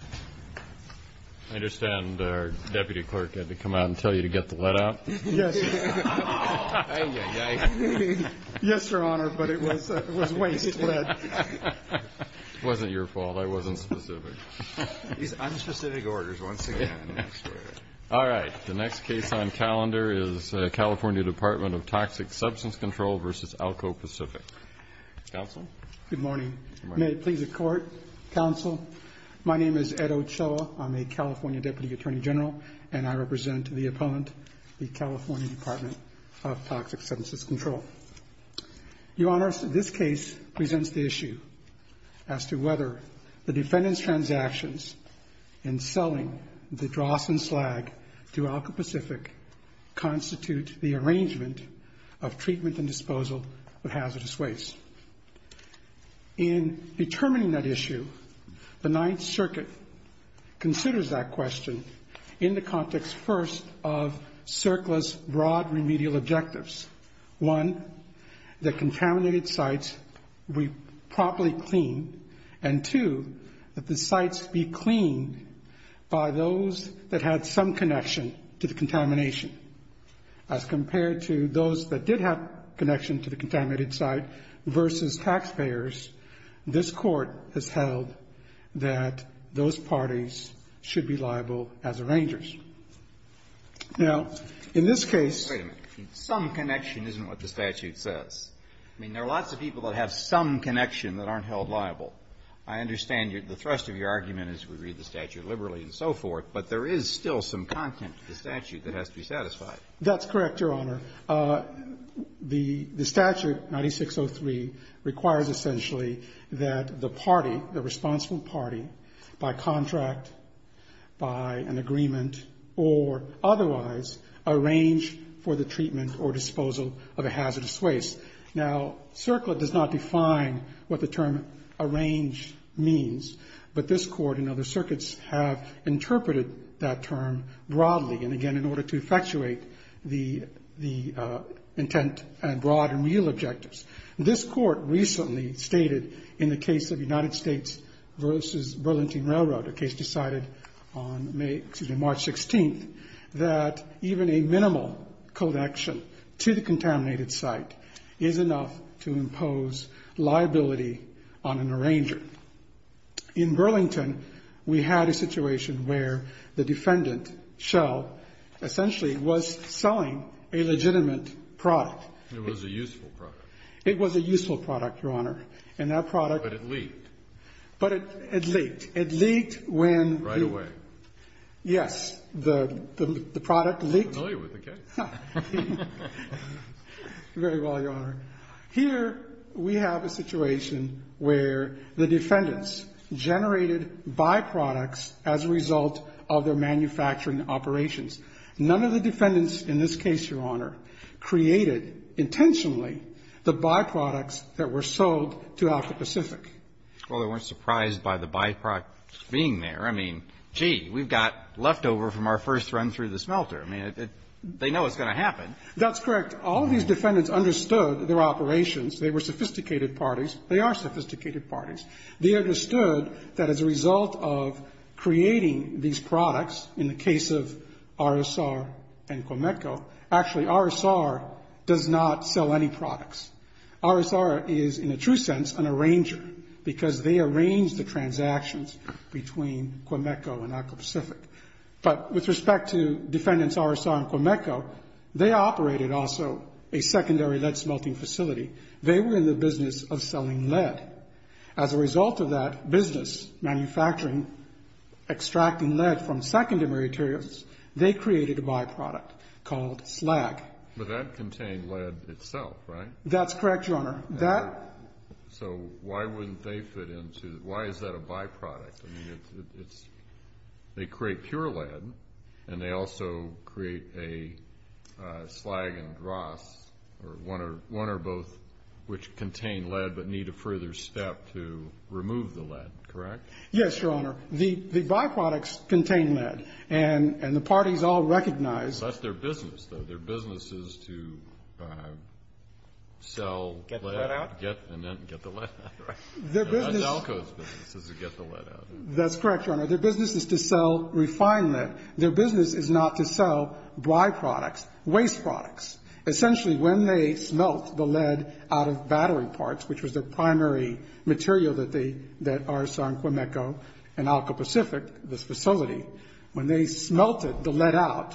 I understand our Deputy Clerk had to come out and tell you to get the lead out? Yes. Yes, Your Honor, but it was waste lead. It wasn't your fault. I wasn't specific. These unspecific orders once again. All right. The next case on calendar is California Department of Toxic Substance Control v. Alco Pacific. Counsel? Good morning. Good morning. May it please the Court, Counsel? My name is Ed Ochoa. I'm a California Deputy Attorney General, and I represent the opponent, the California Department of Toxic Substance Control. Your Honor, this case presents the issue as to whether the defendant's transactions in selling the dross and slag to Alco Pacific constitute the arrangement of treatment and disposal of hazardous waste. In determining that issue, the Ninth Circuit considers that question in the context, first, of CERCLA's broad remedial objectives. One, that contaminated sites be properly cleaned, and two, that the sites be cleaned by those that had some connection to the contamination. As compared to those that did have connection to the contaminated site versus taxpayers, this Court has held that those parties should be liable as arrangers. Now, in this case ---- Wait a minute. Some connection isn't what the statute says. I mean, there are lots of people that have some connection that aren't held liable. I understand the thrust of your argument is we read the statute liberally and so forth, but there is still some content to the statute that has to be satisfied. That's correct, Your Honor. The statute 9603 requires essentially that the party, the responsible party, by contract, by an agreement, or otherwise, arrange for the treatment or disposal of a hazardous waste. Now, CERCLA does not define what the term arrange means, but this Court and other circuits have interpreted that term broadly, and again, in order to effectuate the intent and broad and real objectives. This Court recently stated in the case of United States versus Burlington Railroad, a case decided on March 16th, that even a minimal connection to the contaminated site is enough to impose liability on an arranger. In Burlington, we had a situation where the defendant, Shell, essentially was selling a legitimate product. It was a useful product. It was a useful product, Your Honor. And that product ---- But it leaked. But it leaked. It leaked when ---- Right away. Yes. The product leaked. I'm familiar with the case. Very well, Your Honor. Here we have a situation where the defendants generated byproducts as a result of their manufacturing operations. None of the defendants in this case, Your Honor, created intentionally the byproducts that were sold to Alpha Pacific. Well, they weren't surprised by the byproducts being there. I mean, gee, we've got leftover from our first run through the smelter. I mean, they know it's going to happen. That's correct. All of these defendants understood their operations. They were sophisticated parties. They are sophisticated parties. They understood that as a result of creating these products, in the case of RSR and Quameco, actually RSR does not sell any products. RSR is, in a true sense, an arranger, because they arrange the transactions between Quameco and Alpha Pacific. But with respect to defendants RSR and Quameco, they operated also a secondary lead smelting facility. They were in the business of selling lead. As a result of that business, manufacturing, extracting lead from secondary materials, they created a byproduct called slag. But that contained lead itself, right? That's correct, Your Honor. So why wouldn't they fit into the why is that a byproduct? I mean, they create pure lead, and they also create a slag and dross, or one or both, which contain lead but need a further step to remove the lead, correct? Yes, Your Honor. The byproducts contain lead, and the parties all recognize. That's their business, though. Their business is to sell lead. Get the lead out? Get the lead out, right. No, that's ALCO's business is to get the lead out. That's correct, Your Honor. Their business is to sell refined lead. Their business is not to sell byproducts, waste products. Essentially, when they smelt the lead out of battery parts, which was the primary material that RSR and Quameco and ALCO Pacific, this facility, when they smelted the lead out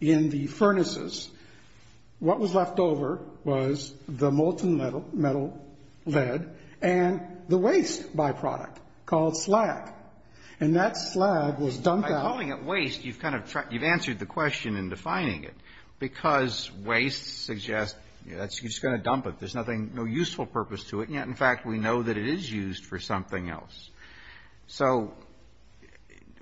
in the furnaces, what was left over was the molten metal lead and the waste byproduct called slag. And that slag was dumped out. By calling it waste, you've answered the question in defining it, because waste suggests you're just going to dump it. There's no useful purpose to it, and yet, in fact, we know that it is used for something else. So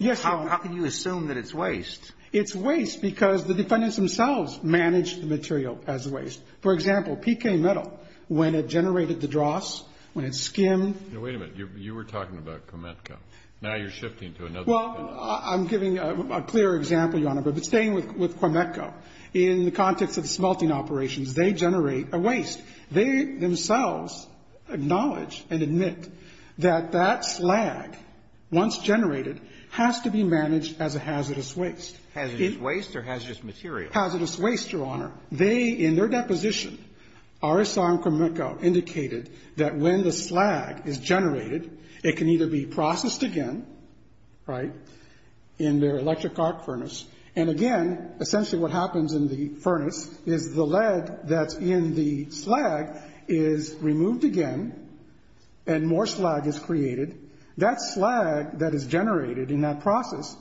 how can you assume that it's waste? It's waste because the defendants themselves manage the material as waste. For example, PK Metal, when it generated the dross, when it skimmed. Now, wait a minute. You were talking about Quameco. Now you're shifting to another. Well, I'm giving a clear example, Your Honor, but staying with Quameco. In the context of the smelting operations, they generate a waste. They themselves acknowledge and admit that that slag, once generated, has to be managed as a hazardous waste. Hazardous waste or hazardous material? Hazardous waste, Your Honor. They, in their deposition, RSR and Quameco indicated that when the slag is generated, it can either be processed again, right, in their electric arc furnace, and again, essentially what happens in the furnace is the lead that's in the slag is removed again, and more slag is created. That slag that is generated in that process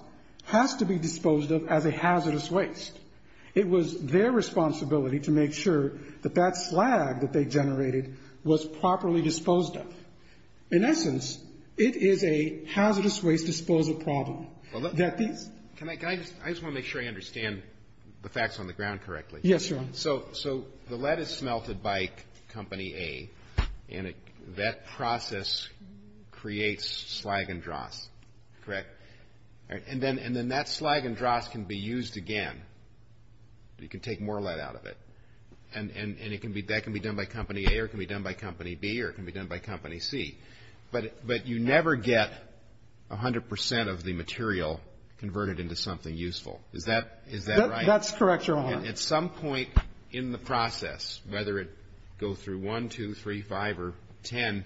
has to be disposed of as a hazardous waste. It was their responsibility to make sure that that slag that they generated was properly disposed of. In essence, it is a hazardous waste disposal problem. I just want to make sure I understand the facts on the ground correctly. Yes, Your Honor. So the lead is smelted by Company A, and that process creates slag and dross, correct? And then that slag and dross can be used again. You can take more lead out of it. And that can be done by Company A or it can be done by Company B or it can be done by Company C. But you never get 100 percent of the material converted into something useful. Is that right? That's correct, Your Honor. And at some point in the process, whether it goes through 1, 2, 3, 5, or 10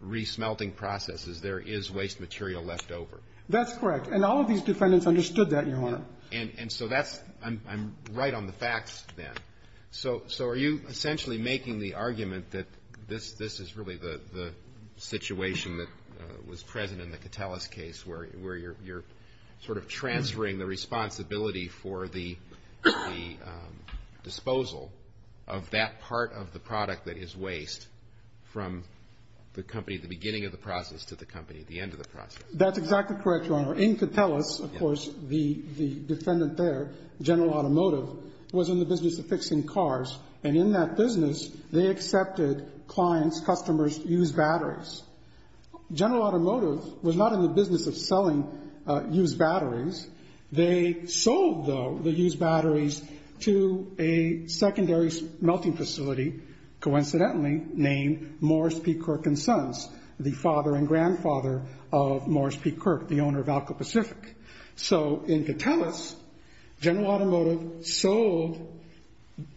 resmelting processes, there is waste material left over. That's correct. And all of these defendants understood that, Your Honor. And so that's – I'm right on the facts then. So are you essentially making the argument that this is really the situation that was present in the Catellus case, where you're sort of transferring the responsibility for the disposal of that part of the product that is waste from the company at the beginning of the process to the company at the end of the process? In Catellus, of course, the defendant there, General Automotive, was in the business of fixing cars. And in that business, they accepted clients, customers to use batteries. General Automotive was not in the business of selling used batteries. They sold, though, the used batteries to a secondary smelting facility, coincidentally named Morris P. Kirk & Sons, the father and grandfather of Morris P. Kirk, the owner of Alka Pacific. So in Catellus, General Automotive sold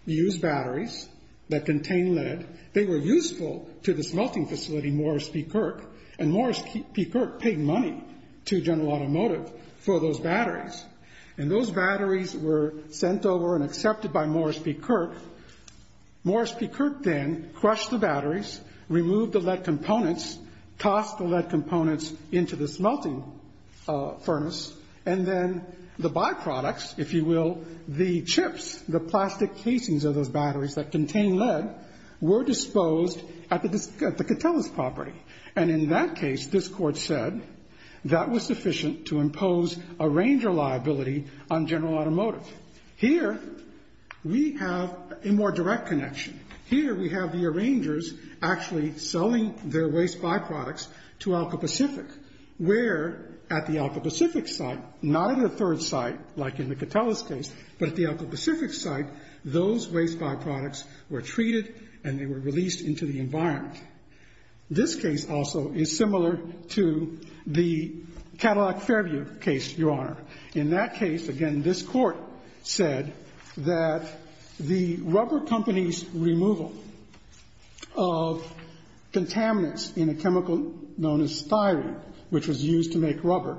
used batteries that contained lead. They were useful to the smelting facility, Morris P. Kirk. And Morris P. Kirk paid money to General Automotive for those batteries. And those batteries were sent over and accepted by Morris P. Kirk. Morris P. Kirk then crushed the batteries, removed the lead components, tossed the lead components into the smelting furnace, and then the byproducts, if you will, the chips, the plastic casings of those batteries that contain lead, were disposed at the Catellus property. And in that case, this court said that was sufficient to impose a ranger liability on General Automotive. So here we have a more direct connection. Here we have the rangers actually selling their waste byproducts to Alka Pacific, where at the Alka Pacific site, not at a third site like in the Catellus case, but at the Alka Pacific site, those waste byproducts were treated and they were released into the environment. This case also is similar to the Cadillac Fairview case, Your Honor. In that case, again, this Court said that the rubber company's removal of contaminants in a chemical known as styrene, which was used to make rubber,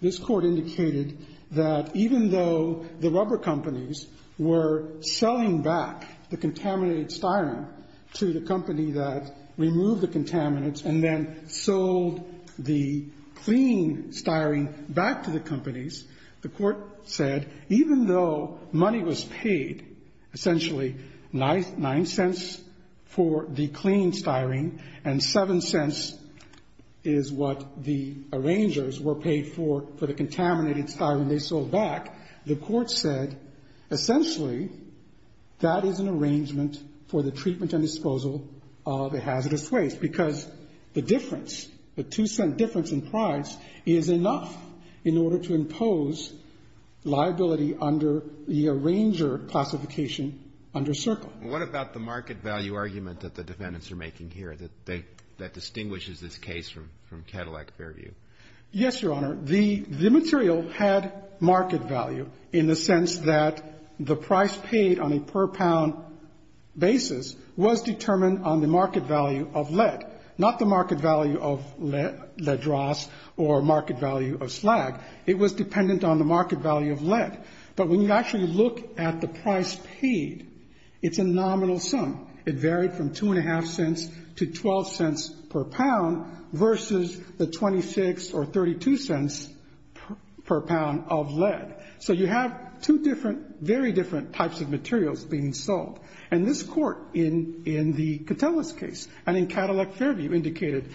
this Court indicated that even though the rubber companies were selling back the contaminated styrene to the company that removed the contaminants and then sold the clean styrene back to the companies, the Court said even though money was paid, essentially, nine cents for the clean styrene and seven cents is what the rangers were paid for, for the contaminated styrene they sold back, the Court said essentially that is an arrangement for the treatment and disposal of a hazardous waste because the difference, the two-cent difference in price is enough in order to impose liability under the arranger classification under Circle. Roberts. What about the market value argument that the defendants are making here that distinguishes this case from Cadillac Fairview? Yes, Your Honor. The material had market value in the sense that the price paid on a per pound basis was determined on the market value of lead, not the market value of lead dross or market value of slag. It was dependent on the market value of lead. But when you actually look at the price paid, it's a nominal sum. It varied from 2.5 cents to 12 cents per pound versus the 26 or 32 cents per pound of lead. So you have two different, very different types of materials being sold. And this Court in the Catullus case and in Cadillac Fairview indicated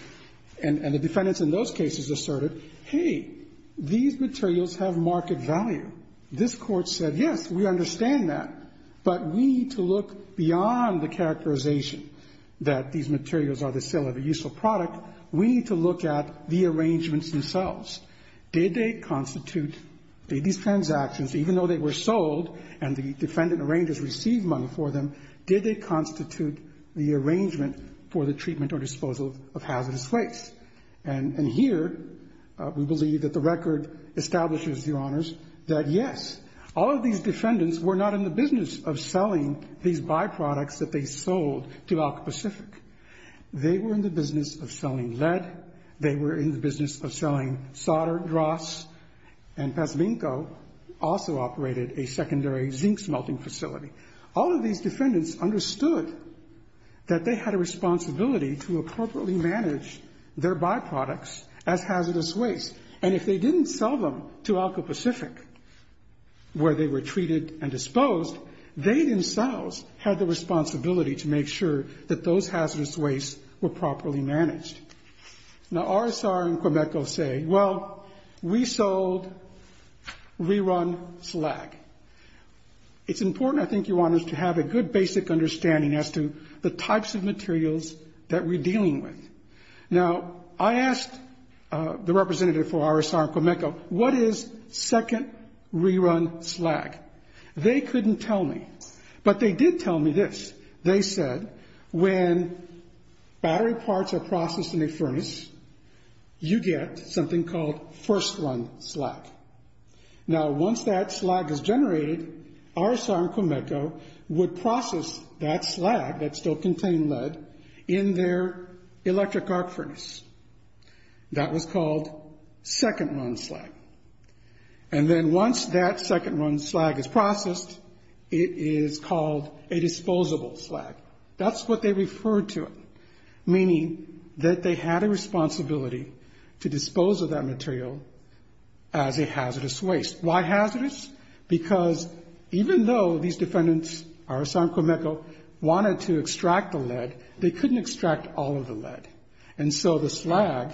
and the defendants in those cases asserted, hey, these materials have market value. This Court said, yes, we understand that, but we need to look beyond the characterization that these materials are the sale of a useful product. We need to look at the arrangements themselves. Did they constitute, did these transactions, even though they were sold and the defendant arrangers received money for them, did they constitute the arrangement for the treatment or disposal of hazardous waste? And here we believe that the record establishes, Your Honors, that yes, all of these defendants were not in the business of selling these byproducts that they sold to Alka-Pacific. They were in the business of selling lead. They were in the business of selling solder, dross. And Pazminko also operated a secondary zinc smelting facility. All of these defendants understood that they had a responsibility to appropriately manage their byproducts as hazardous waste. And if they didn't sell them to Alka-Pacific where they were treated and disposed, they themselves had the responsibility to make sure that those hazardous wastes were properly managed. Now, RSR and Quimeco say, well, we sold rerun slag. It's important, I think, Your Honors, to have a good basic understanding as to the types of materials that we're dealing with. Now, I asked the representative for RSR and Quimeco, what is second rerun slag? They couldn't tell me, but they did tell me this. They said, when battery parts are processed in a furnace, you get something called first run slag. Now, once that slag is generated, RSR and Quimeco would process that slag that still contained lead in their electric arc furnace. That was called second run slag. And then once that second run slag is processed, it is called a disposable slag. That's what they referred to it, meaning that they had a responsibility to dispose of that material as a hazardous waste. Why hazardous? Because even though these defendants, RSR and Quimeco, wanted to extract the lead, they couldn't extract all of the lead. And so the slag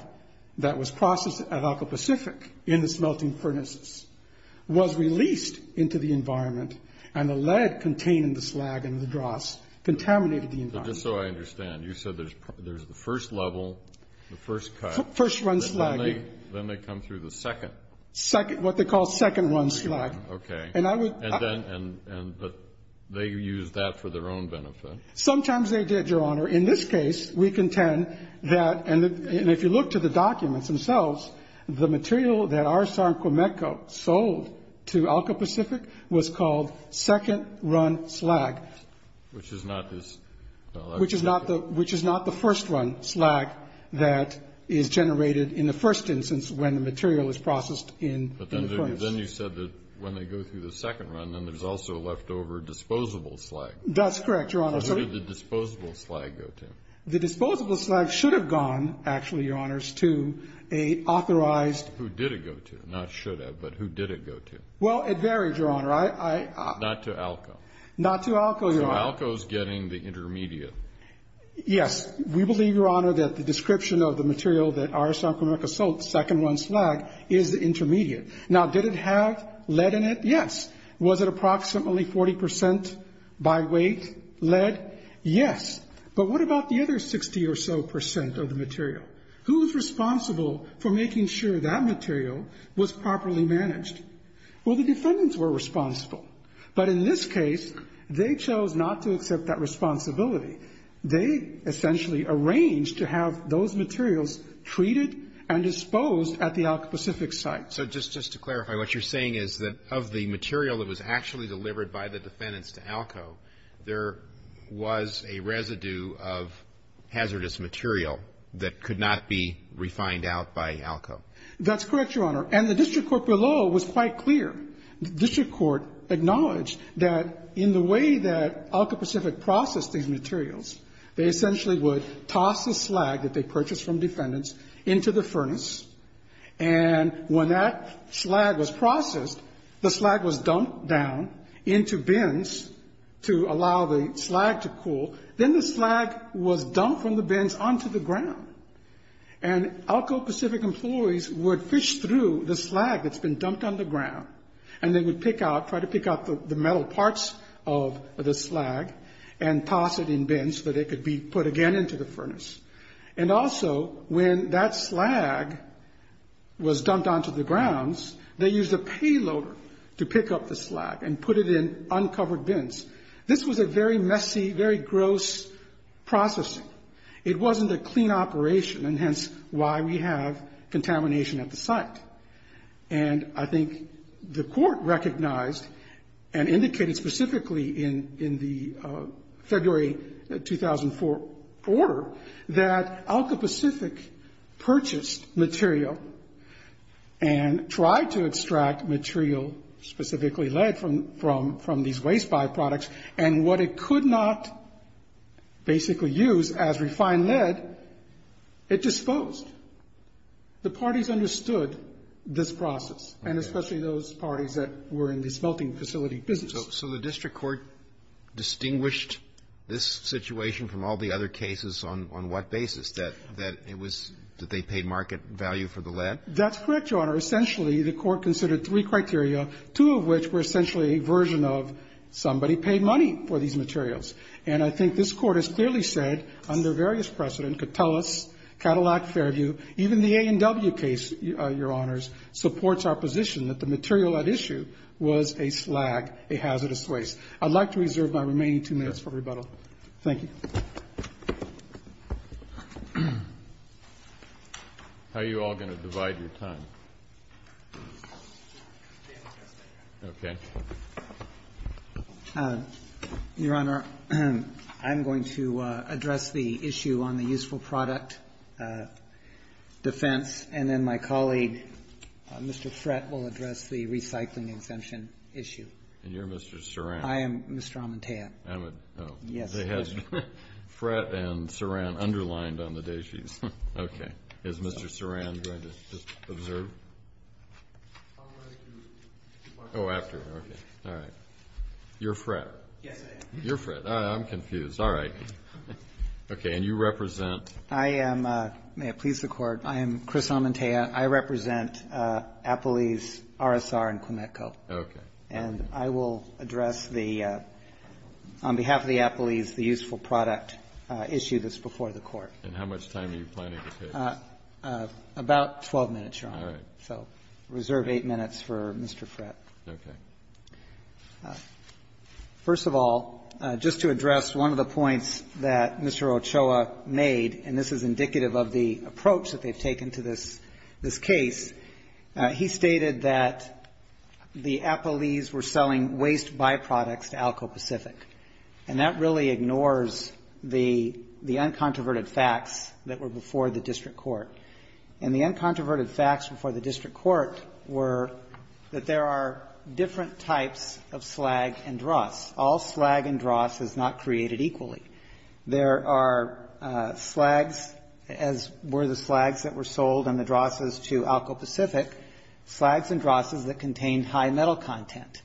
that was processed at Alcoa Pacific in the smelting furnaces was released into the environment, and the lead contained in the slag and in the dross contaminated the environment. Just so I understand, you said there's the first level, the first cut. First run slag. Then they come through the second. What they call second run slag. And they use that for their own benefit. Sometimes they did, Your Honor. In this case, we contend that, and if you look to the documents themselves, the material that RSR and Quimeco sold to Alcoa Pacific was called second run slag. Which is not this. Which is not the first run slag that is generated in the first instance when the material is processed in the furnace. But then you said that when they go through the second run, then there's also leftover disposable slag. That's correct, Your Honor. Where did the disposable slag go to? The disposable slag should have gone, actually, Your Honors, to an authorized. Who did it go to? Not should have, but who did it go to? Well, it varied, Your Honor. Not to Alcoa. Not to Alcoa, Your Honor. So Alcoa's getting the intermediate. Yes. We believe, Your Honor, that the description of the material that RSR and Quimeco sold, second run slag, is the intermediate. Now, did it have lead in it? Yes. Was it approximately 40% by weight lead? Yes. But what about the other 60 or so percent of the material? Who was responsible for making sure that material was properly managed? Well, the defendants were responsible. But in this case, they chose not to accept that responsibility. They essentially arranged to have those materials treated and disposed at the Alcoa Pacific site. So just to clarify, what you're saying is that of the material that was actually delivered by the defendants to Alcoa, there was a residue of hazardous material that could not be refined out by Alcoa? That's correct, Your Honor. And the district court below was quite clear. The district court acknowledged that in the way that Alcoa Pacific processed these materials, they essentially would toss the slag that they purchased from defendants into the furnace, and when that slag was processed, the slag was dumped down into bins to allow the slag to cool. Then the slag was dumped from the bins onto the ground. And Alcoa Pacific employees would fish through the slag that's been dumped on the ground, and they would pick out, try to pick out the metal parts of the slag and toss it in bins so that it could be put again into the furnace. And also, when that slag was dumped onto the grounds, they used a payloader to pick up the slag and put it in uncovered bins. This was a very messy, very gross processing. It wasn't a clean operation, and hence why we have contamination at the site. And I think the court recognized and indicated specifically in the February 2004 order that Alcoa Pacific purchased material and tried to extract material, specifically lead, from these waste byproducts, and what it could not basically use as refined lead, it disposed. The parties understood this process, and especially those parties that were in the smelting facility business. So the district court distinguished this situation from all the other cases on what basis, that it was that they paid market value for the lead? That's correct, Your Honor. Essentially, the court considered three criteria, two of which were essentially a version of somebody paid money for these materials. And I think this Court has clearly said, under various precedent, could tell us, Cadillac, Fairview, even the A&W case, Your Honors, supports our position that the material at issue was a slag, a hazardous waste. I'd like to reserve my remaining two minutes for rebuttal. Thank you. How are you all going to divide your time? Okay. Your Honor, I'm going to address the issue on the useful product defense, and then my colleague, Mr. Frett, will address the recycling exemption issue. And you're Mr. Sarand? I am Mr. Amantea. They had Frett and Sarand underlined on the daisies. Okay. Is Mr. Sarand going to just observe? Oh, after. Okay. All right. You're Frett? Yes, I am. You're Frett. I'm confused. All right. Okay. And you represent? I am. May it please the Court. I am Chris Amantea. I represent Appalese, RSR, and Quimetco. Okay. And I will address the, on behalf of the Appalese, the useful product issue that's before the Court. And how much time are you planning to take? About 12 minutes, Your Honor. All right. So reserve eight minutes for Mr. Frett. Okay. First of all, just to address one of the points that Mr. Ochoa made, and this is indicative of the approach that they've taken to this case, he stated that the Appalese were selling waste byproducts to Alco Pacific. And that really ignores the uncontroverted facts that were before the district court. And the uncontroverted facts before the district court were that there are different types of slag and dross. All slag and dross is not created equally. There are slags, as were the slags that were sold and the drosses to Alco Pacific, slags and drosses that contained high metal content.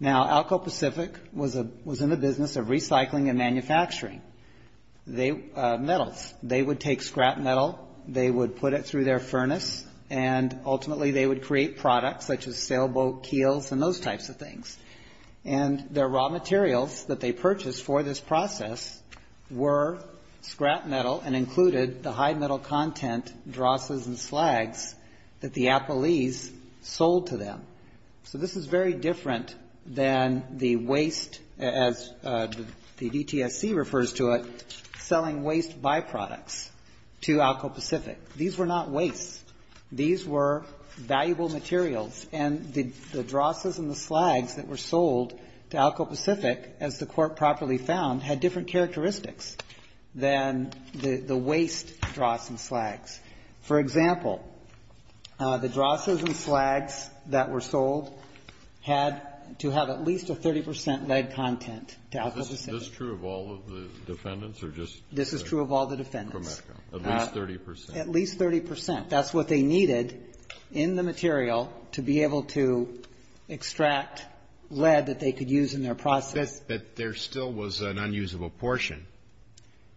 Now, Alco Pacific was in the business of recycling and manufacturing metals. They would take scrap metal. They would put it through their furnace, and ultimately they would create products such as sailboat keels and those types of things. And their raw materials that they purchased for this process were scrap metal and included the high metal content drosses and slags that the Appalese sold to them. So this is very different than the waste, as the DTSC refers to it, selling waste byproducts to Alco Pacific. These were not wastes. These were valuable materials. And the drosses and the slags that were sold to Alco Pacific, as the Court properly found, had different characteristics than the waste dross and slags. For example, the drosses and slags that were sold had to have at least a 30 percent lead content to Alco Pacific. This is true of all of the defendants? This is true of all the defendants. At least 30 percent. At least 30 percent. That's what they needed in the material to be able to extract lead that they could use in their process. But there still was an unusable portion.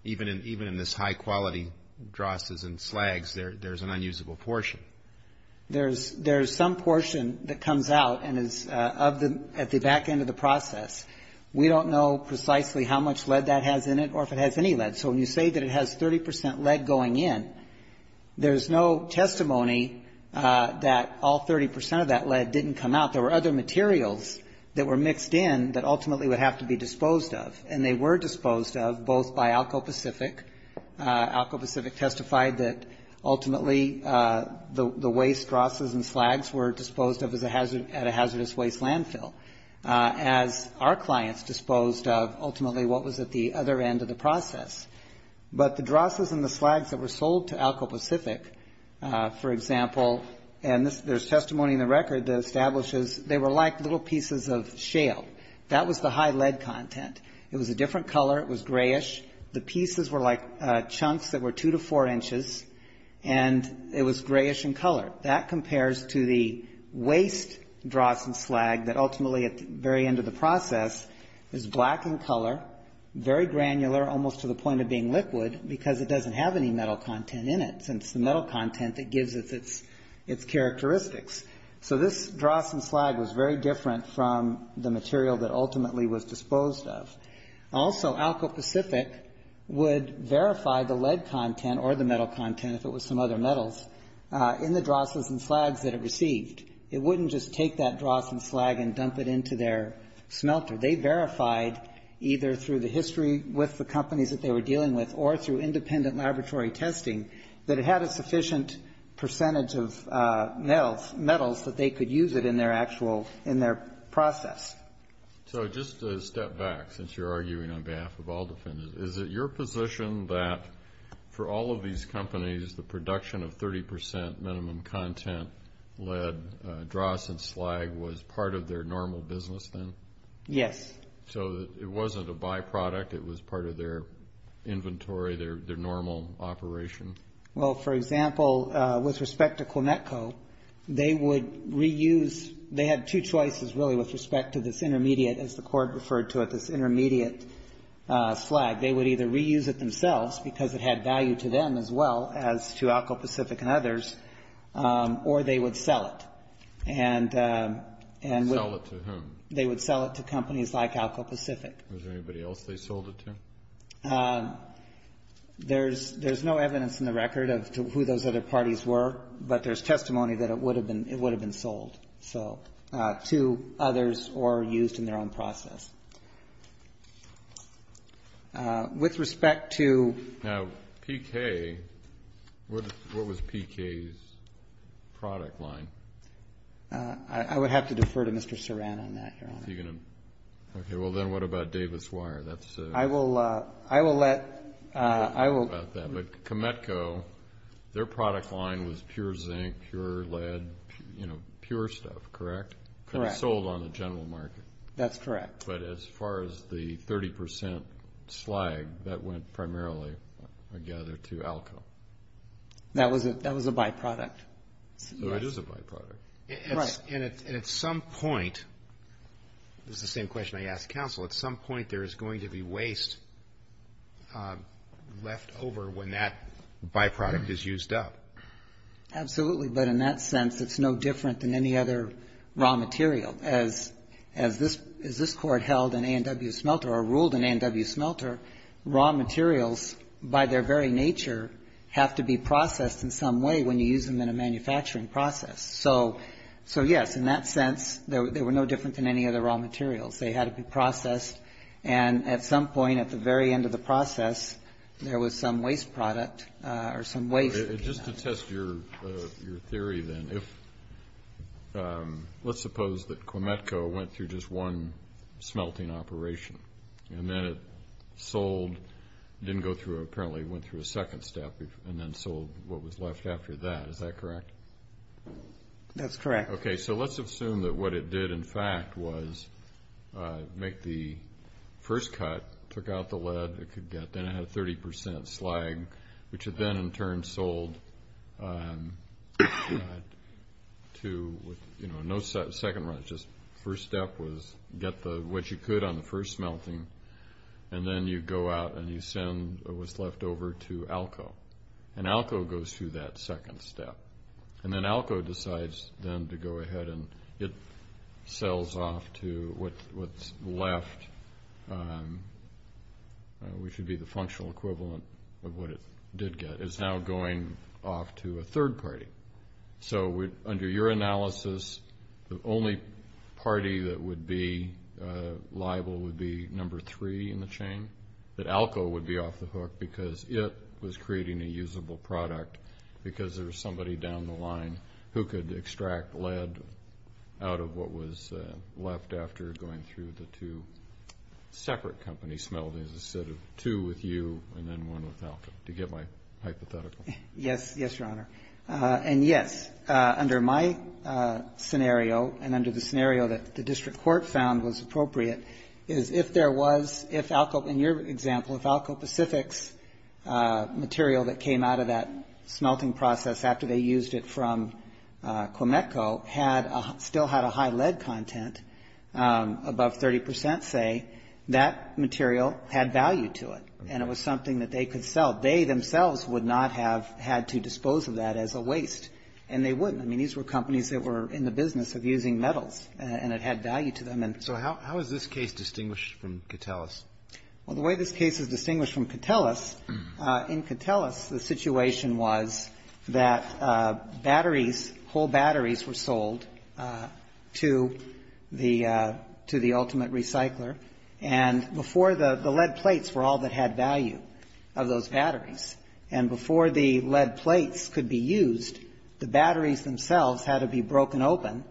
Even in this high quality drosses and slags, there's an unusable portion. There's some portion that comes out and is at the back end of the process. We don't know precisely how much lead that has in it or if it has any lead. So when you say that it has 30 percent lead going in, there's no testimony that all 30 percent of that lead didn't come out. There were other materials that were mixed in that ultimately would have to be disposed of. And they were disposed of, both by Alco Pacific. Alco Pacific testified that, ultimately, the waste drosses and slags were disposed of at a hazardous waste landfill, as our clients disposed of, ultimately, what was at the other end of the process. But the drosses and the slags that were sold to Alco Pacific, for example, and there's testimony in the record that establishes they were like little pieces of shale. That was the high lead content. It was a different color. It was grayish. The pieces were like chunks that were two to four inches, and it was grayish in color. That compares to the waste dross and slag that ultimately at the very end of the process is black in color, very granular, almost to the point of being liquid because it doesn't have any metal content in it since the metal content that gives it its characteristics. So this dross and slag was very different from the material that ultimately was disposed of. Also, Alco Pacific would verify the lead content or the metal content, if it was some other metals, in the drosses and slags that it received. It wouldn't just take that dross and slag and dump it into their smelter. They verified either through the history with the companies that they were dealing with or through independent laboratory testing that it had a sufficient percentage of metals that they could use it in their actual, in their process. So just a step back since you're arguing on behalf of all defendants. Is it your position that for all of these companies, the production of 30 percent minimum content lead dross and slag was part of their normal business then? Yes. So it wasn't a byproduct. It was part of their inventory, their normal operation? Well, for example, with respect to Quinetco, they would reuse they had two choices, really, with respect to this intermediate, as the Court referred to it, this intermediate slag. They would either reuse it themselves because it had value to them as well as to Alco Pacific and others, or they would sell it. Sell it to whom? They would sell it to companies like Alco Pacific. Was there anybody else they sold it to? There's no evidence in the record of who those other parties were, but there's testimony that it would have been sold. So to others or used in their own process. With respect to PK, what was PK's product line? I would have to defer to Mr. Saran on that, Your Honor. Okay. Well, then what about Davis Wire? I will let you know about that. But Quinetco, their product line was pure zinc, pure lead, you know, pure stuff, correct? Correct. Could have sold on the general market. That's correct. But as far as the 30% slag, that went primarily, I gather, to Alco. That was a byproduct. It is a byproduct. Right. And at some point, this is the same question I asked counsel, at some point, there is going to be waste left over when that byproduct is used up. Absolutely. But in that sense, it's no different than any other raw material. As this Court held in A&W Smelter or ruled in A&W Smelter, raw materials, by their very nature, have to be processed in some way when you use them in a manufacturing process. So, yes, in that sense, they were no different than any other raw materials. They had to be processed. And at some point, at the very end of the process, there was some waste product or some waste. Just to test your theory, then, let's suppose that Quinetco went through just one smelting operation. And then it sold, didn't go through, apparently went through a second step and then sold what was left after that. Is that correct? That's correct. Okay, so let's assume that what it did, in fact, was make the first cut, took out the lead it could get. Then it had a 30% slag, which it then, in turn, sold to, you know, no second run. Just first step was get what you could on the first smelting. And then you go out and you send what's left over to ALCO. And ALCO goes through that second step. And then ALCO decides, then, to go ahead and it sells off to what's left, which would be the functional equivalent of what it did get. It's now going off to a third party. So under your analysis, the only party that would be liable would be number three in the chain, that ALCO would be off the hook because it was creating a usable product because there was somebody down the line who could extract lead out of what was left after going through the two separate company smeltings instead of two with you and then one with ALCO, to get my hypothetical. Yes, Your Honor. And, yes, under my scenario and under the scenario that the district court found was appropriate is if there was, if ALCO, in your example, if ALCO Pacific's material that came out of that smelting process after they used it from Quimetco still had a high lead content above 30 percent, say, that material had value to it. And it was something that they could sell. They themselves would not have had to dispose of that as a waste. And they wouldn't. I mean, these were companies that were in the business of using metals. And it had value to them. So how is this case distinguished from Catalis? Well, the way this case is distinguished from Catalis, in Catalis the situation was that batteries, whole batteries were sold to the ultimate recycler. And before the lead plates were all that had value of those batteries. And before the lead plates could be used, the batteries themselves had to be broken open.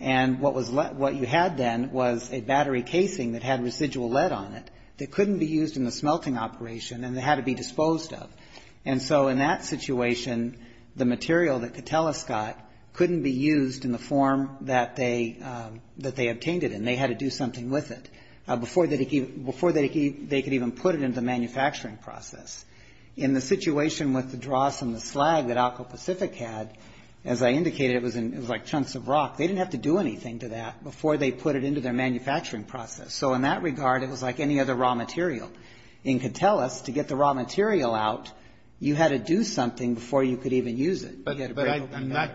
And what you had then was a battery casing that had residual lead on it that couldn't be used in the smelting operation and had to be disposed of. And so in that situation, the material that Catalis got couldn't be used in the form that they obtained it in. They had to do something with it before they could even put it into the manufacturing process. In the situation with the dross and the slag that ALCO Pacific had, as I indicated, it was like chunks of rock. They didn't have to do anything to that before they put it into their manufacturing process. So in that regard, it was like any other raw material. In Catalis, to get the raw material out, you had to do something before you could even use it. You had to break it open. But I'm not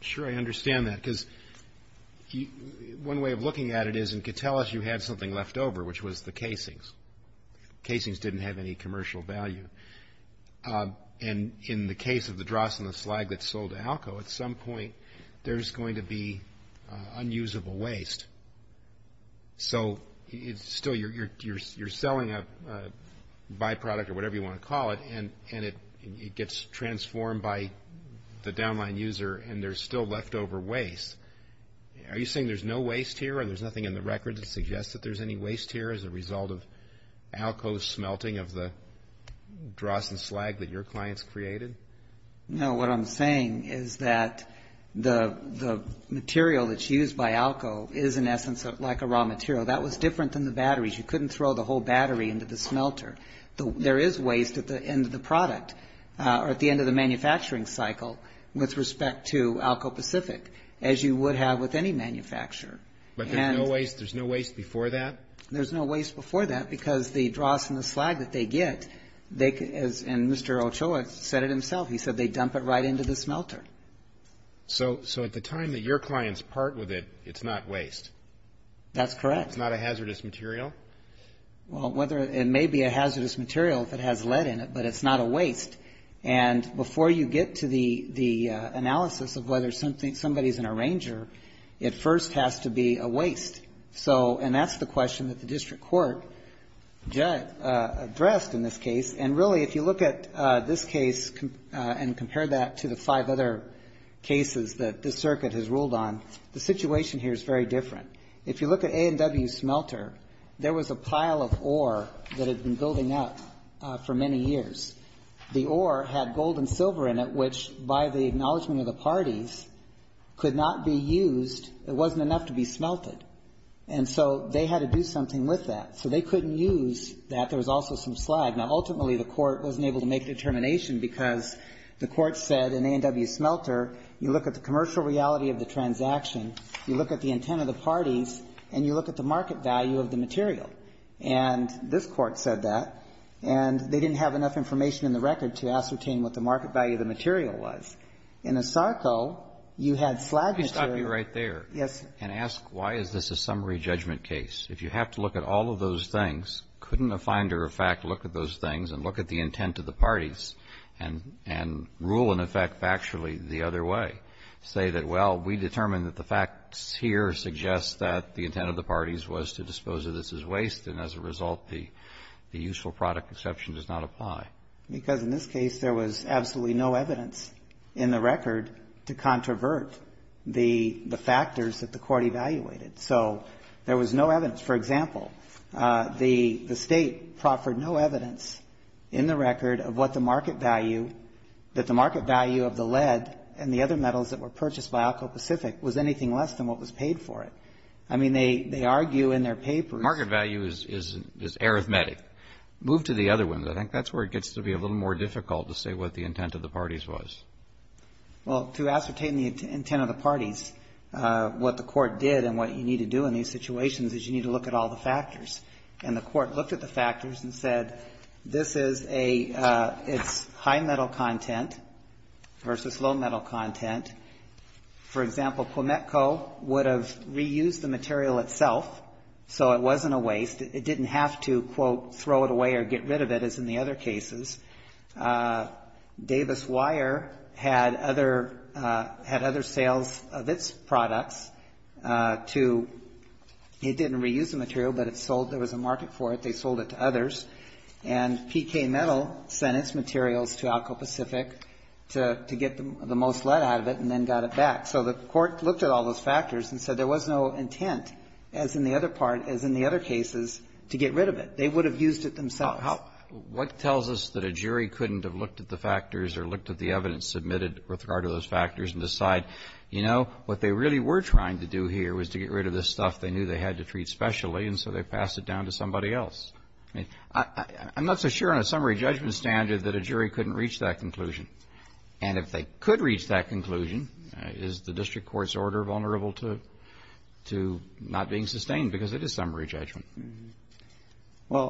sure I understand that. Because one way of looking at it is in Catalis you had something left over, which was the casings. Casings didn't have any commercial value. And in the case of the dross and the slag that sold to ALCO, at some point there's going to be unusable waste. So still you're selling a byproduct or whatever you want to call it, and it gets transformed by the downline user and there's still leftover waste. Are you saying there's no waste here and there's nothing in the record that suggests that there's any waste here as a result of ALCO's smelting of the dross and slag that your clients created? No. What I'm saying is that the material that's used by ALCO is, in essence, like a raw material. That was different than the batteries. You couldn't throw the whole battery into the smelter. There is waste at the end of the product or at the end of the manufacturing cycle with respect to ALCO Pacific, as you would have with any manufacturer. But there's no waste before that? There's no waste before that because the dross and the slag that they get, and Mr. Ochoa said it himself, he said they dump it right into the smelter. So at the time that your clients part with it, it's not waste? That's correct. It's not a hazardous material? Well, it may be a hazardous material if it has lead in it, but it's not a waste. And before you get to the analysis of whether somebody's an arranger, it first has to be a waste. So, and that's the question that the district court addressed in this case. And really, if you look at this case and compare that to the five other cases that this circuit has ruled on, the situation here is very different. If you look at A&W's smelter, there was a pile of ore that had been building up for many years. The ore had gold and silver in it, which, by the acknowledgment of the parties, could not be used. It wasn't enough to be smelted. And so they had to do something with that. So they couldn't use that. There was also some slag. Now, ultimately, the court wasn't able to make a determination because the court said in A&W's smelter, you look at the commercial reality of the transaction, you look at the intent of the parties, and you look at the market value of the material. And this Court said that. And they didn't have enough information in the record to ascertain what the market value of the material was. In Asarco, you had slag material. And let me stop you right there. Yes. And ask, why is this a summary judgment case? If you have to look at all of those things, couldn't a finder of fact look at those things and look at the intent of the parties and rule, in effect, factually the other way? Say that, well, we determined that the facts here suggest that the intent of the parties was to dispose of this as waste, and as a result, the useful product exception does not apply. Because in this case, there was absolutely no evidence in the record to controvert the factors that the court evaluated. So there was no evidence. For example, the State proffered no evidence in the record of what the market value, that the market value of the lead and the other metals that were purchased by Alco Pacific was anything less than what was paid for it. I mean, they argue in their papers. Market value is arithmetic. Move to the other one. I think that's where it gets to be a little more difficult to say what the intent of the parties was. Well, to ascertain the intent of the parties, what the Court did and what you need to do in these situations is you need to look at all the factors. And the Court looked at the factors and said, this is a high metal content versus low metal content. For example, Quimetco would have reused the material itself, so it wasn't a waste. It didn't have to, quote, throw it away or get rid of it as in the other cases. Davis Wire had other sales of its products to, it didn't reuse the material, but it sold. There was a market for it. They sold it to others. And PK Metal sent its materials to Alco Pacific to get the most lead out of it and then got it back. So the Court looked at all those factors and said there was no intent as in the other part, as in the other cases, to get rid of it. They would have used it themselves. What tells us that a jury couldn't have looked at the factors or looked at the evidence submitted with regard to those factors and decide, you know, what they really were trying to do here was to get rid of this stuff they knew they had to treat specially and so they passed it down to somebody else? I'm not so sure on a summary judgment standard that a jury couldn't reach that conclusion. And if they could reach that conclusion, is the district court's order vulnerable to not being sustained because it is summary judgment? Well,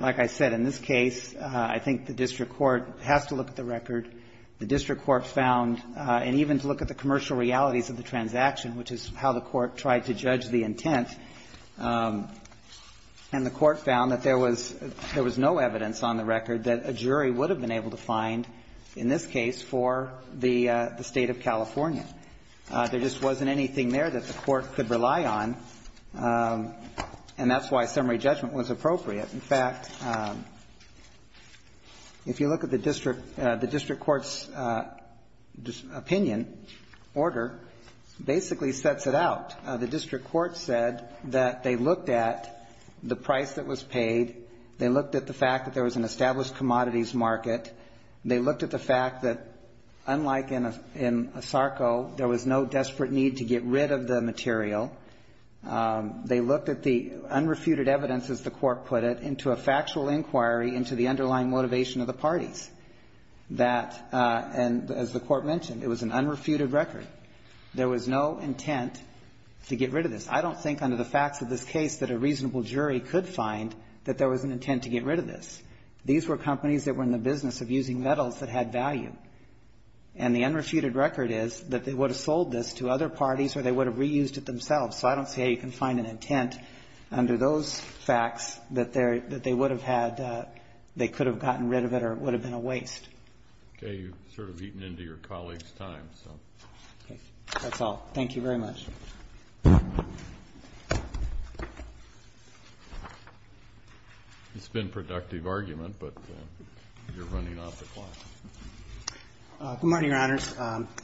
like I said, in this case, I think the district court has to look at the record. The district court found, and even to look at the commercial realities of the transaction, which is how the court tried to judge the intent, and the court found that there was no evidence on the record that a jury would have been able to find in this case for the State of California. There just wasn't anything there that the court could rely on, and that's why summary judgment was appropriate. In fact, if you look at the district, the district court's opinion, order, basically sets it out. The district court said that they looked at the price that was paid. They looked at the fact that there was an established commodities market. They looked at the fact that, unlike in ASARCO, there was no desperate need to get rid of the material. They looked at the unrefuted evidence, as the court put it, into a factual inquiry into the underlying motivation of the parties. That, and as the court mentioned, it was an unrefuted record. There was no intent to get rid of this. I don't think under the facts of this case that a reasonable jury could find that there was an intent to get rid of this. These were companies that were in the business of using metals that had value. And the unrefuted record is that they would have sold this to other parties or they would have reused it themselves. So I don't see how you can find an intent under those facts that they would have had they could have gotten rid of it or it would have been a waste. Okay. You've sort of eaten into your colleague's time, so. Okay. That's all. Thank you very much. It's been a productive argument, but you're running off the clock. Good morning, Your Honors.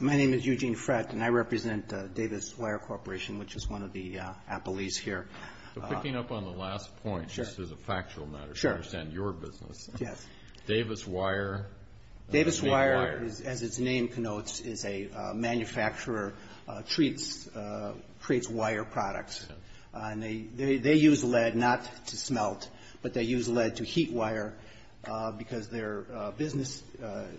My name is Eugene Frett, and I represent Davis Wire Corporation, which is one of the appellees here. Picking up on the last point, this is a factual matter. Sure. To understand your business. Yes. Davis Wire. Davis Wire, as its name connotes, is a manufacturer, creates wire products. And they use lead not to smelt, but they use lead to heat wire because their business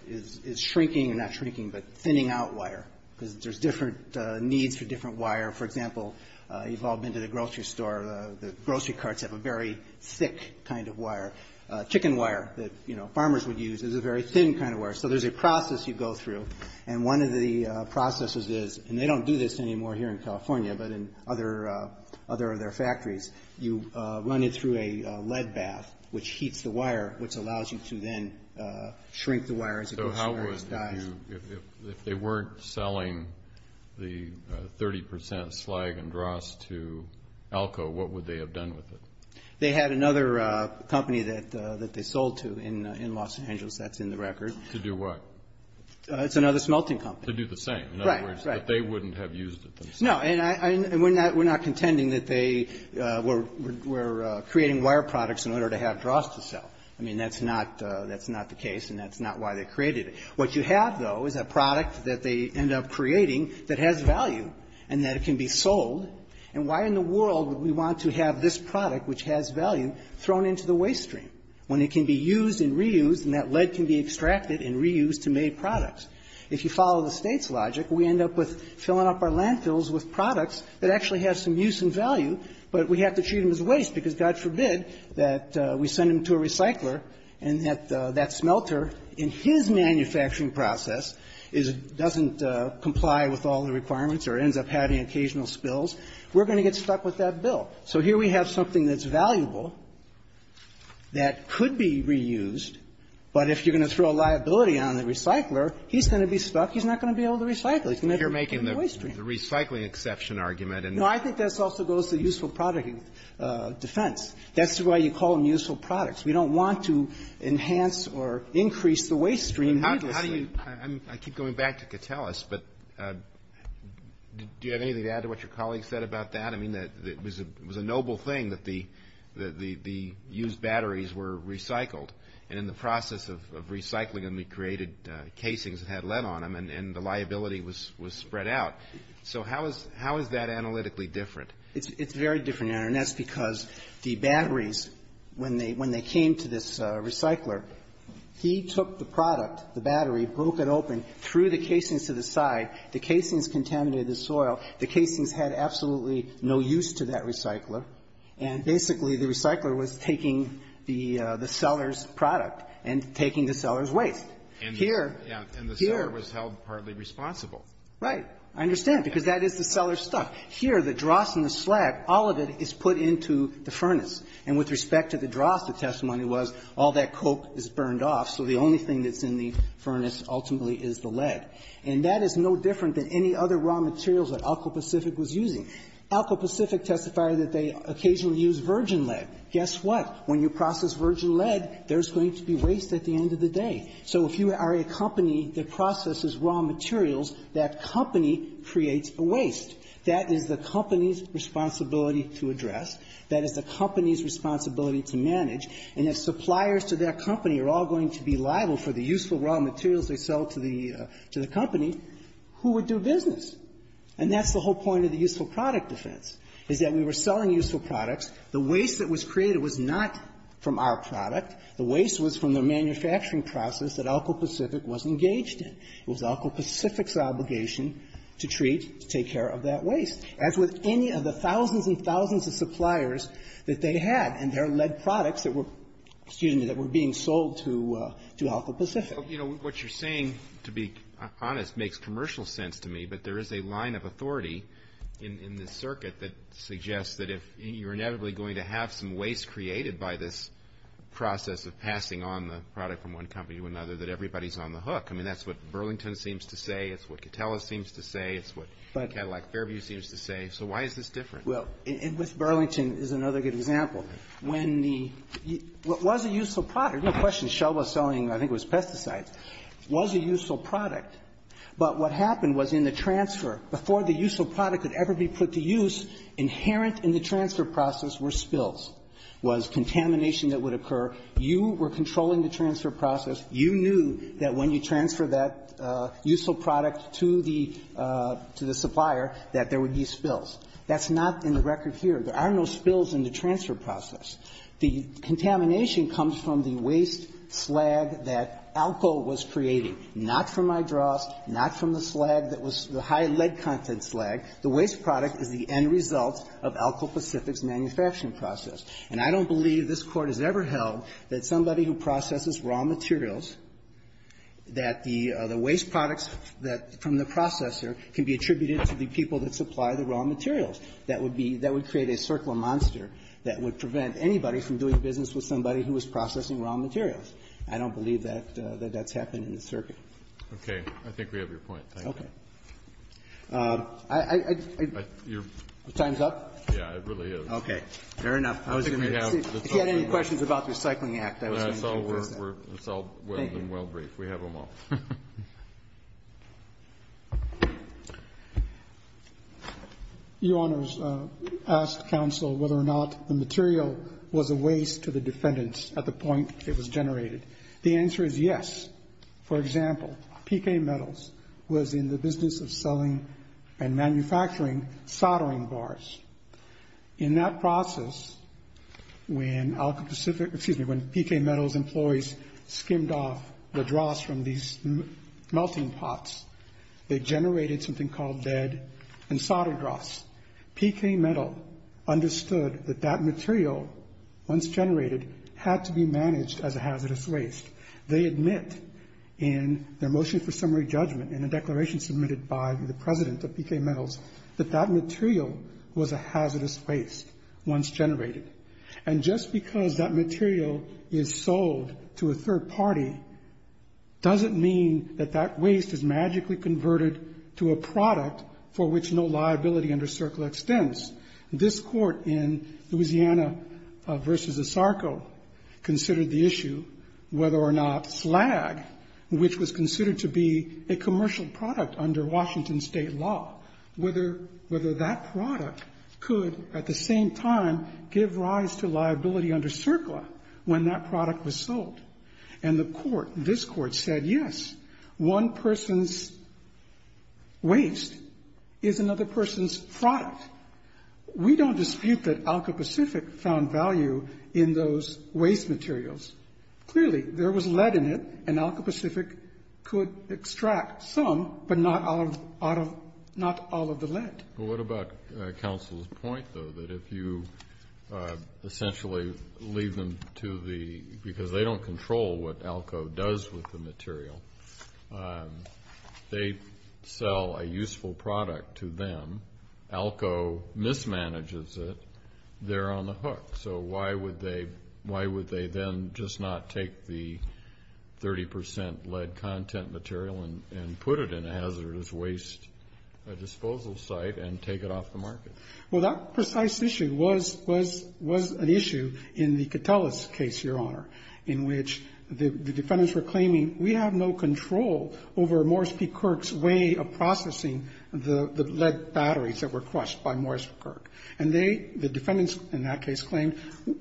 is shrinking, not shrinking, but thinning out wire because there's different needs for different wire. For example, you've all been to the grocery store. The grocery carts have a very thick kind of wire. Chicken wire that, you know, farmers would use is a very thin kind of wire. So there's a process you go through, and one of the processes is, and they don't do this anymore here in California, but in other of their factories, you run it through a lead bath, which heats the wire, which allows you to then shrink the wire. So how would you, if they weren't selling the 30 percent slag and dross to Alco, what would they have done with it? They had another company that they sold to in Los Angeles. That's in the record. To do what? It's another smelting company. To do the same. Right, right. In other words, that they wouldn't have used it themselves. No. And we're not contending that they were creating wire products in order to have dross to sell. I mean, that's not the case, and that's not why they created it. What you have, though, is a product that they end up creating that has value and that it can be sold. And why in the world would we want to have this product, which has value, thrown into the waste stream when it can be used and reused and that lead can be extracted and reused to make products? If you follow the State's logic, we end up with filling up our landfills with products that actually have some use and value, but we have to treat them as waste because, God forbid, that we send them to a recycler and that that smelter, in his manufacturing process, is doesn't comply with all the requirements or ends up having occasional spills, we're going to get stuck with that bill. So here we have something that's valuable that could be reused, but if you're going to throw a liability on the recycler, he's going to be stuck. He's not going to be able to recycle. He's never going to be able to use the waste stream. You're making the recycling exception argument. No. I think that also goes to useful product defense. That's why you call them useful products. We don't want to enhance or increase the waste stream needlessly. I keep going back to Catellus, but do you have anything to add to what your colleague said about that? I mean, it was a noble thing that the used batteries were recycled, and in the process of recycling them, we created casings that had lead on them, and the liability was spread out. So how is that analytically different? It's very different, and that's because the batteries, when they came to this recycler, he took the product, the battery, broke it open, threw the casings to the side. The casings contaminated the soil. The casings had absolutely no use to that recycler. And basically, the recycler was taking the seller's product and taking the seller's waste. Here, here. And the seller was held partly responsible. Right. I understand, because that is the seller's stuff. Here, the dross and the slag, all of it is put into the furnace. And with respect to the dross, the testimony was, all that coke is burned off, so the only thing that's in the furnace ultimately is the lead. And that is no different than any other raw materials that Alcopacific was using. Alcopacific testified that they occasionally used virgin lead. Guess what? When you process virgin lead, there's going to be waste at the end of the day. So if you are a company that processes raw materials, that company creates a waste. That is the company's responsibility to address. That is the company's responsibility to manage. And if suppliers to their company are all going to be liable for the useful raw materials they sell to the company, who would do business? And that's the whole point of the useful product defense, is that we were selling useful products. The waste that was created was not from our product. The waste was from the manufacturing process that Alcopacific was engaged in. It was Alcopacific's obligation to treat, to take care of that waste. As with any of the thousands and thousands of suppliers that they had and their lead products that were, excuse me, that were being sold to Alcopacific. Well, you know, what you're saying, to be honest, makes commercial sense to me. But there is a line of authority in the circuit that suggests that if you're inevitably going to have some waste created by this process of passing on the product from one company to another, that everybody's on the hook. I mean, that's what Burlington seems to say. It's what Catellus seems to say. It's what Cadillac Fairview seems to say. So why is this different? Well, and with Burlington is another good example. When the — was a useful product. No question. Shell was selling, I think it was pesticides. Was a useful product. But what happened was in the transfer, before the useful product could ever be put to use, inherent in the transfer process were spills, was contamination that would occur. You were controlling the transfer process. You knew that when you transfer that useful product to the supplier that there would be spills. That's not in the record here. There are no spills in the transfer process. The contamination comes from the waste slag that Alco was creating, not from hydrost, not from the slag that was the high lead content slag. The waste product is the end result of Alco Pacific's manufacturing process. And I don't believe this Court has ever held that somebody who processes raw materials, that the waste products from the processor can be attributed to the people that supply the raw materials. That would be — that would create a circular monster that would prevent anybody from doing business with somebody who was processing raw materials. I don't believe that that's happened in the circuit. Okay. I think we have your point. Thank you. Your time's up? Yeah, it really is. Okay. Fair enough. I was going to — if you had any questions about the Recycling Act, I was going to — It's all well and well briefed. We have them all. Your Honors, I asked counsel whether or not the material was a waste to the defendants at the point it was generated. The answer is yes. For example, P.K. Metals was in the business of selling and manufacturing soldering bars. In that process, when Alco Pacific — excuse me, when P.K. Metals employees skimmed off the dross from these melting pots, they generated something called dead and soldered dross. P.K. Metal understood that that material, once generated, had to be managed as a hazardous waste. They admit in their motion for summary judgment in a declaration submitted by the president of P.K. Metals that that material was a hazardous waste once generated. And just because that material is sold to a third party doesn't mean that that waste is magically converted to a product for which no liability under CERCLA extends. This Court in Louisiana v. Esarco considered the issue whether or not slag, which was considered to be a commercial product under Washington State law, whether that product could at the same time give rise to liability under CERCLA when that product was sold. And the Court, this Court, said yes, one person's waste is another person's product. We don't dispute that Alco Pacific found value in those waste materials. Clearly, there was lead in it, and Alco Pacific could extract some, but not all of the lead. Well, what about counsel's point, though, that if you essentially leave them to the because they don't control what Alco does with the material. They sell a useful product to them. Alco mismanages it. They're on the hook. So why would they then just not take the 30 percent lead content material and put it in a hazardous waste disposal site and take it off the market? Well, that precise issue was an issue in the Catellus case, Your Honor, in which the defendants were claiming we have no control over Morris P. Kirk's way of processing the lead batteries that were crushed by Morris P. Kirk. And they, the defendants in that case, claimed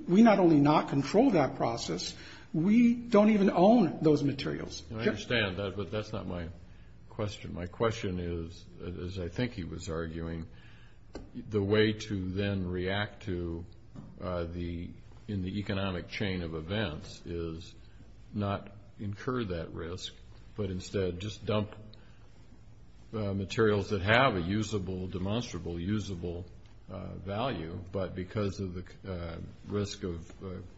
we not only not control that process, we don't even own those materials. I understand that, but that's not my question. My question is, as I think he was arguing, the way to then react to the, in the economic chain of events, is not incur that risk, but instead just dump materials that have a usable, demonstrable, usable value. But because of the risk of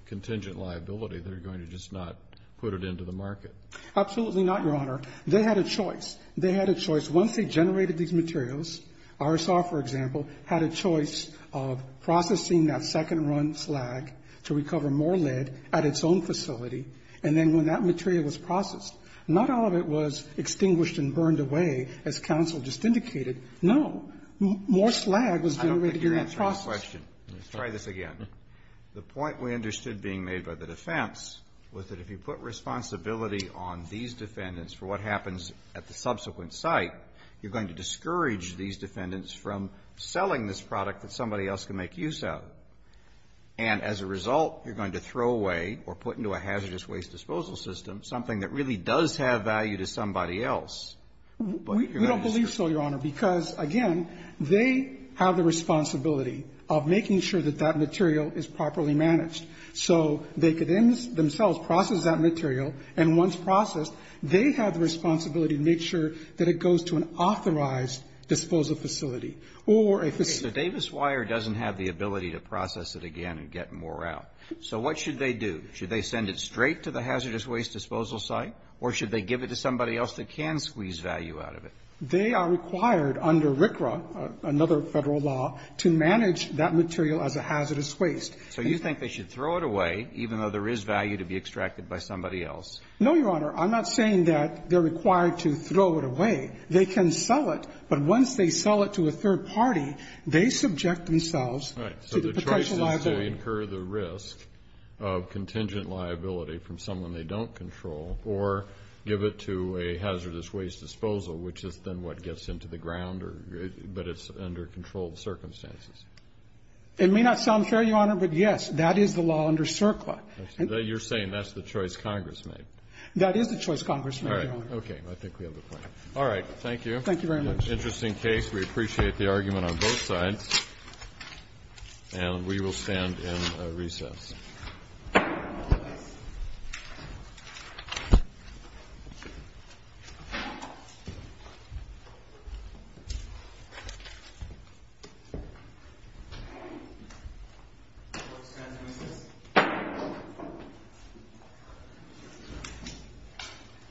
contingent liability, they're going to just not put it into the market. Absolutely not, Your Honor. They had a choice. They had a choice. Once they generated these materials, RSR, for example, had a choice of processing that second run slag to recover more lead at its own facility, and then when that material was processed, not all of it was extinguished and burned away, as counsel just indicated. No. More slag was generated in that process. I don't think you're answering the question. Let's try this again. The point we understood being made by the defense was that if you put responsibility on these defendants for what happens at the subsequent site, you're going to discourage these defendants from selling this product that somebody else can make use of. And as a result, you're going to throw away or put into a hazardous waste disposal system something that really does have value to somebody else. We don't believe so, Your Honor, because, again, they have the responsibility of making sure that that material is properly managed. So they could themselves process that material, and once processed, they have the responsibility to make sure that it goes to an authorized disposal facility or a facility. Okay. So Davis Wire doesn't have the ability to process it again and get more out. So what should they do? Should they send it straight to the hazardous waste disposal site, or should they give it to somebody else that can squeeze value out of it? They are required under RCRA, another Federal law, to manage that material as a hazardous waste. So you think they should throw it away, even though there is value to be extracted by somebody else? No, Your Honor. I'm not saying that they're required to throw it away. They can sell it. But once they sell it to a third party, they subject themselves to the potential liability. Right. So the choice is to incur the risk of contingent liability from someone they don't control or give it to a hazardous waste disposal, which is then what gets into the ground, but it's under controlled circumstances. It may not sound fair, Your Honor, but, yes, that is the law under CERCLA. You're saying that's the choice Congress made. That is the choice Congress made, Your Honor. All right. Okay. I think we have a point. All right. Thank you. Thank you very much. Interesting case. We appreciate the argument on both sides. And we will stand in recess. Thank you, Your Honor.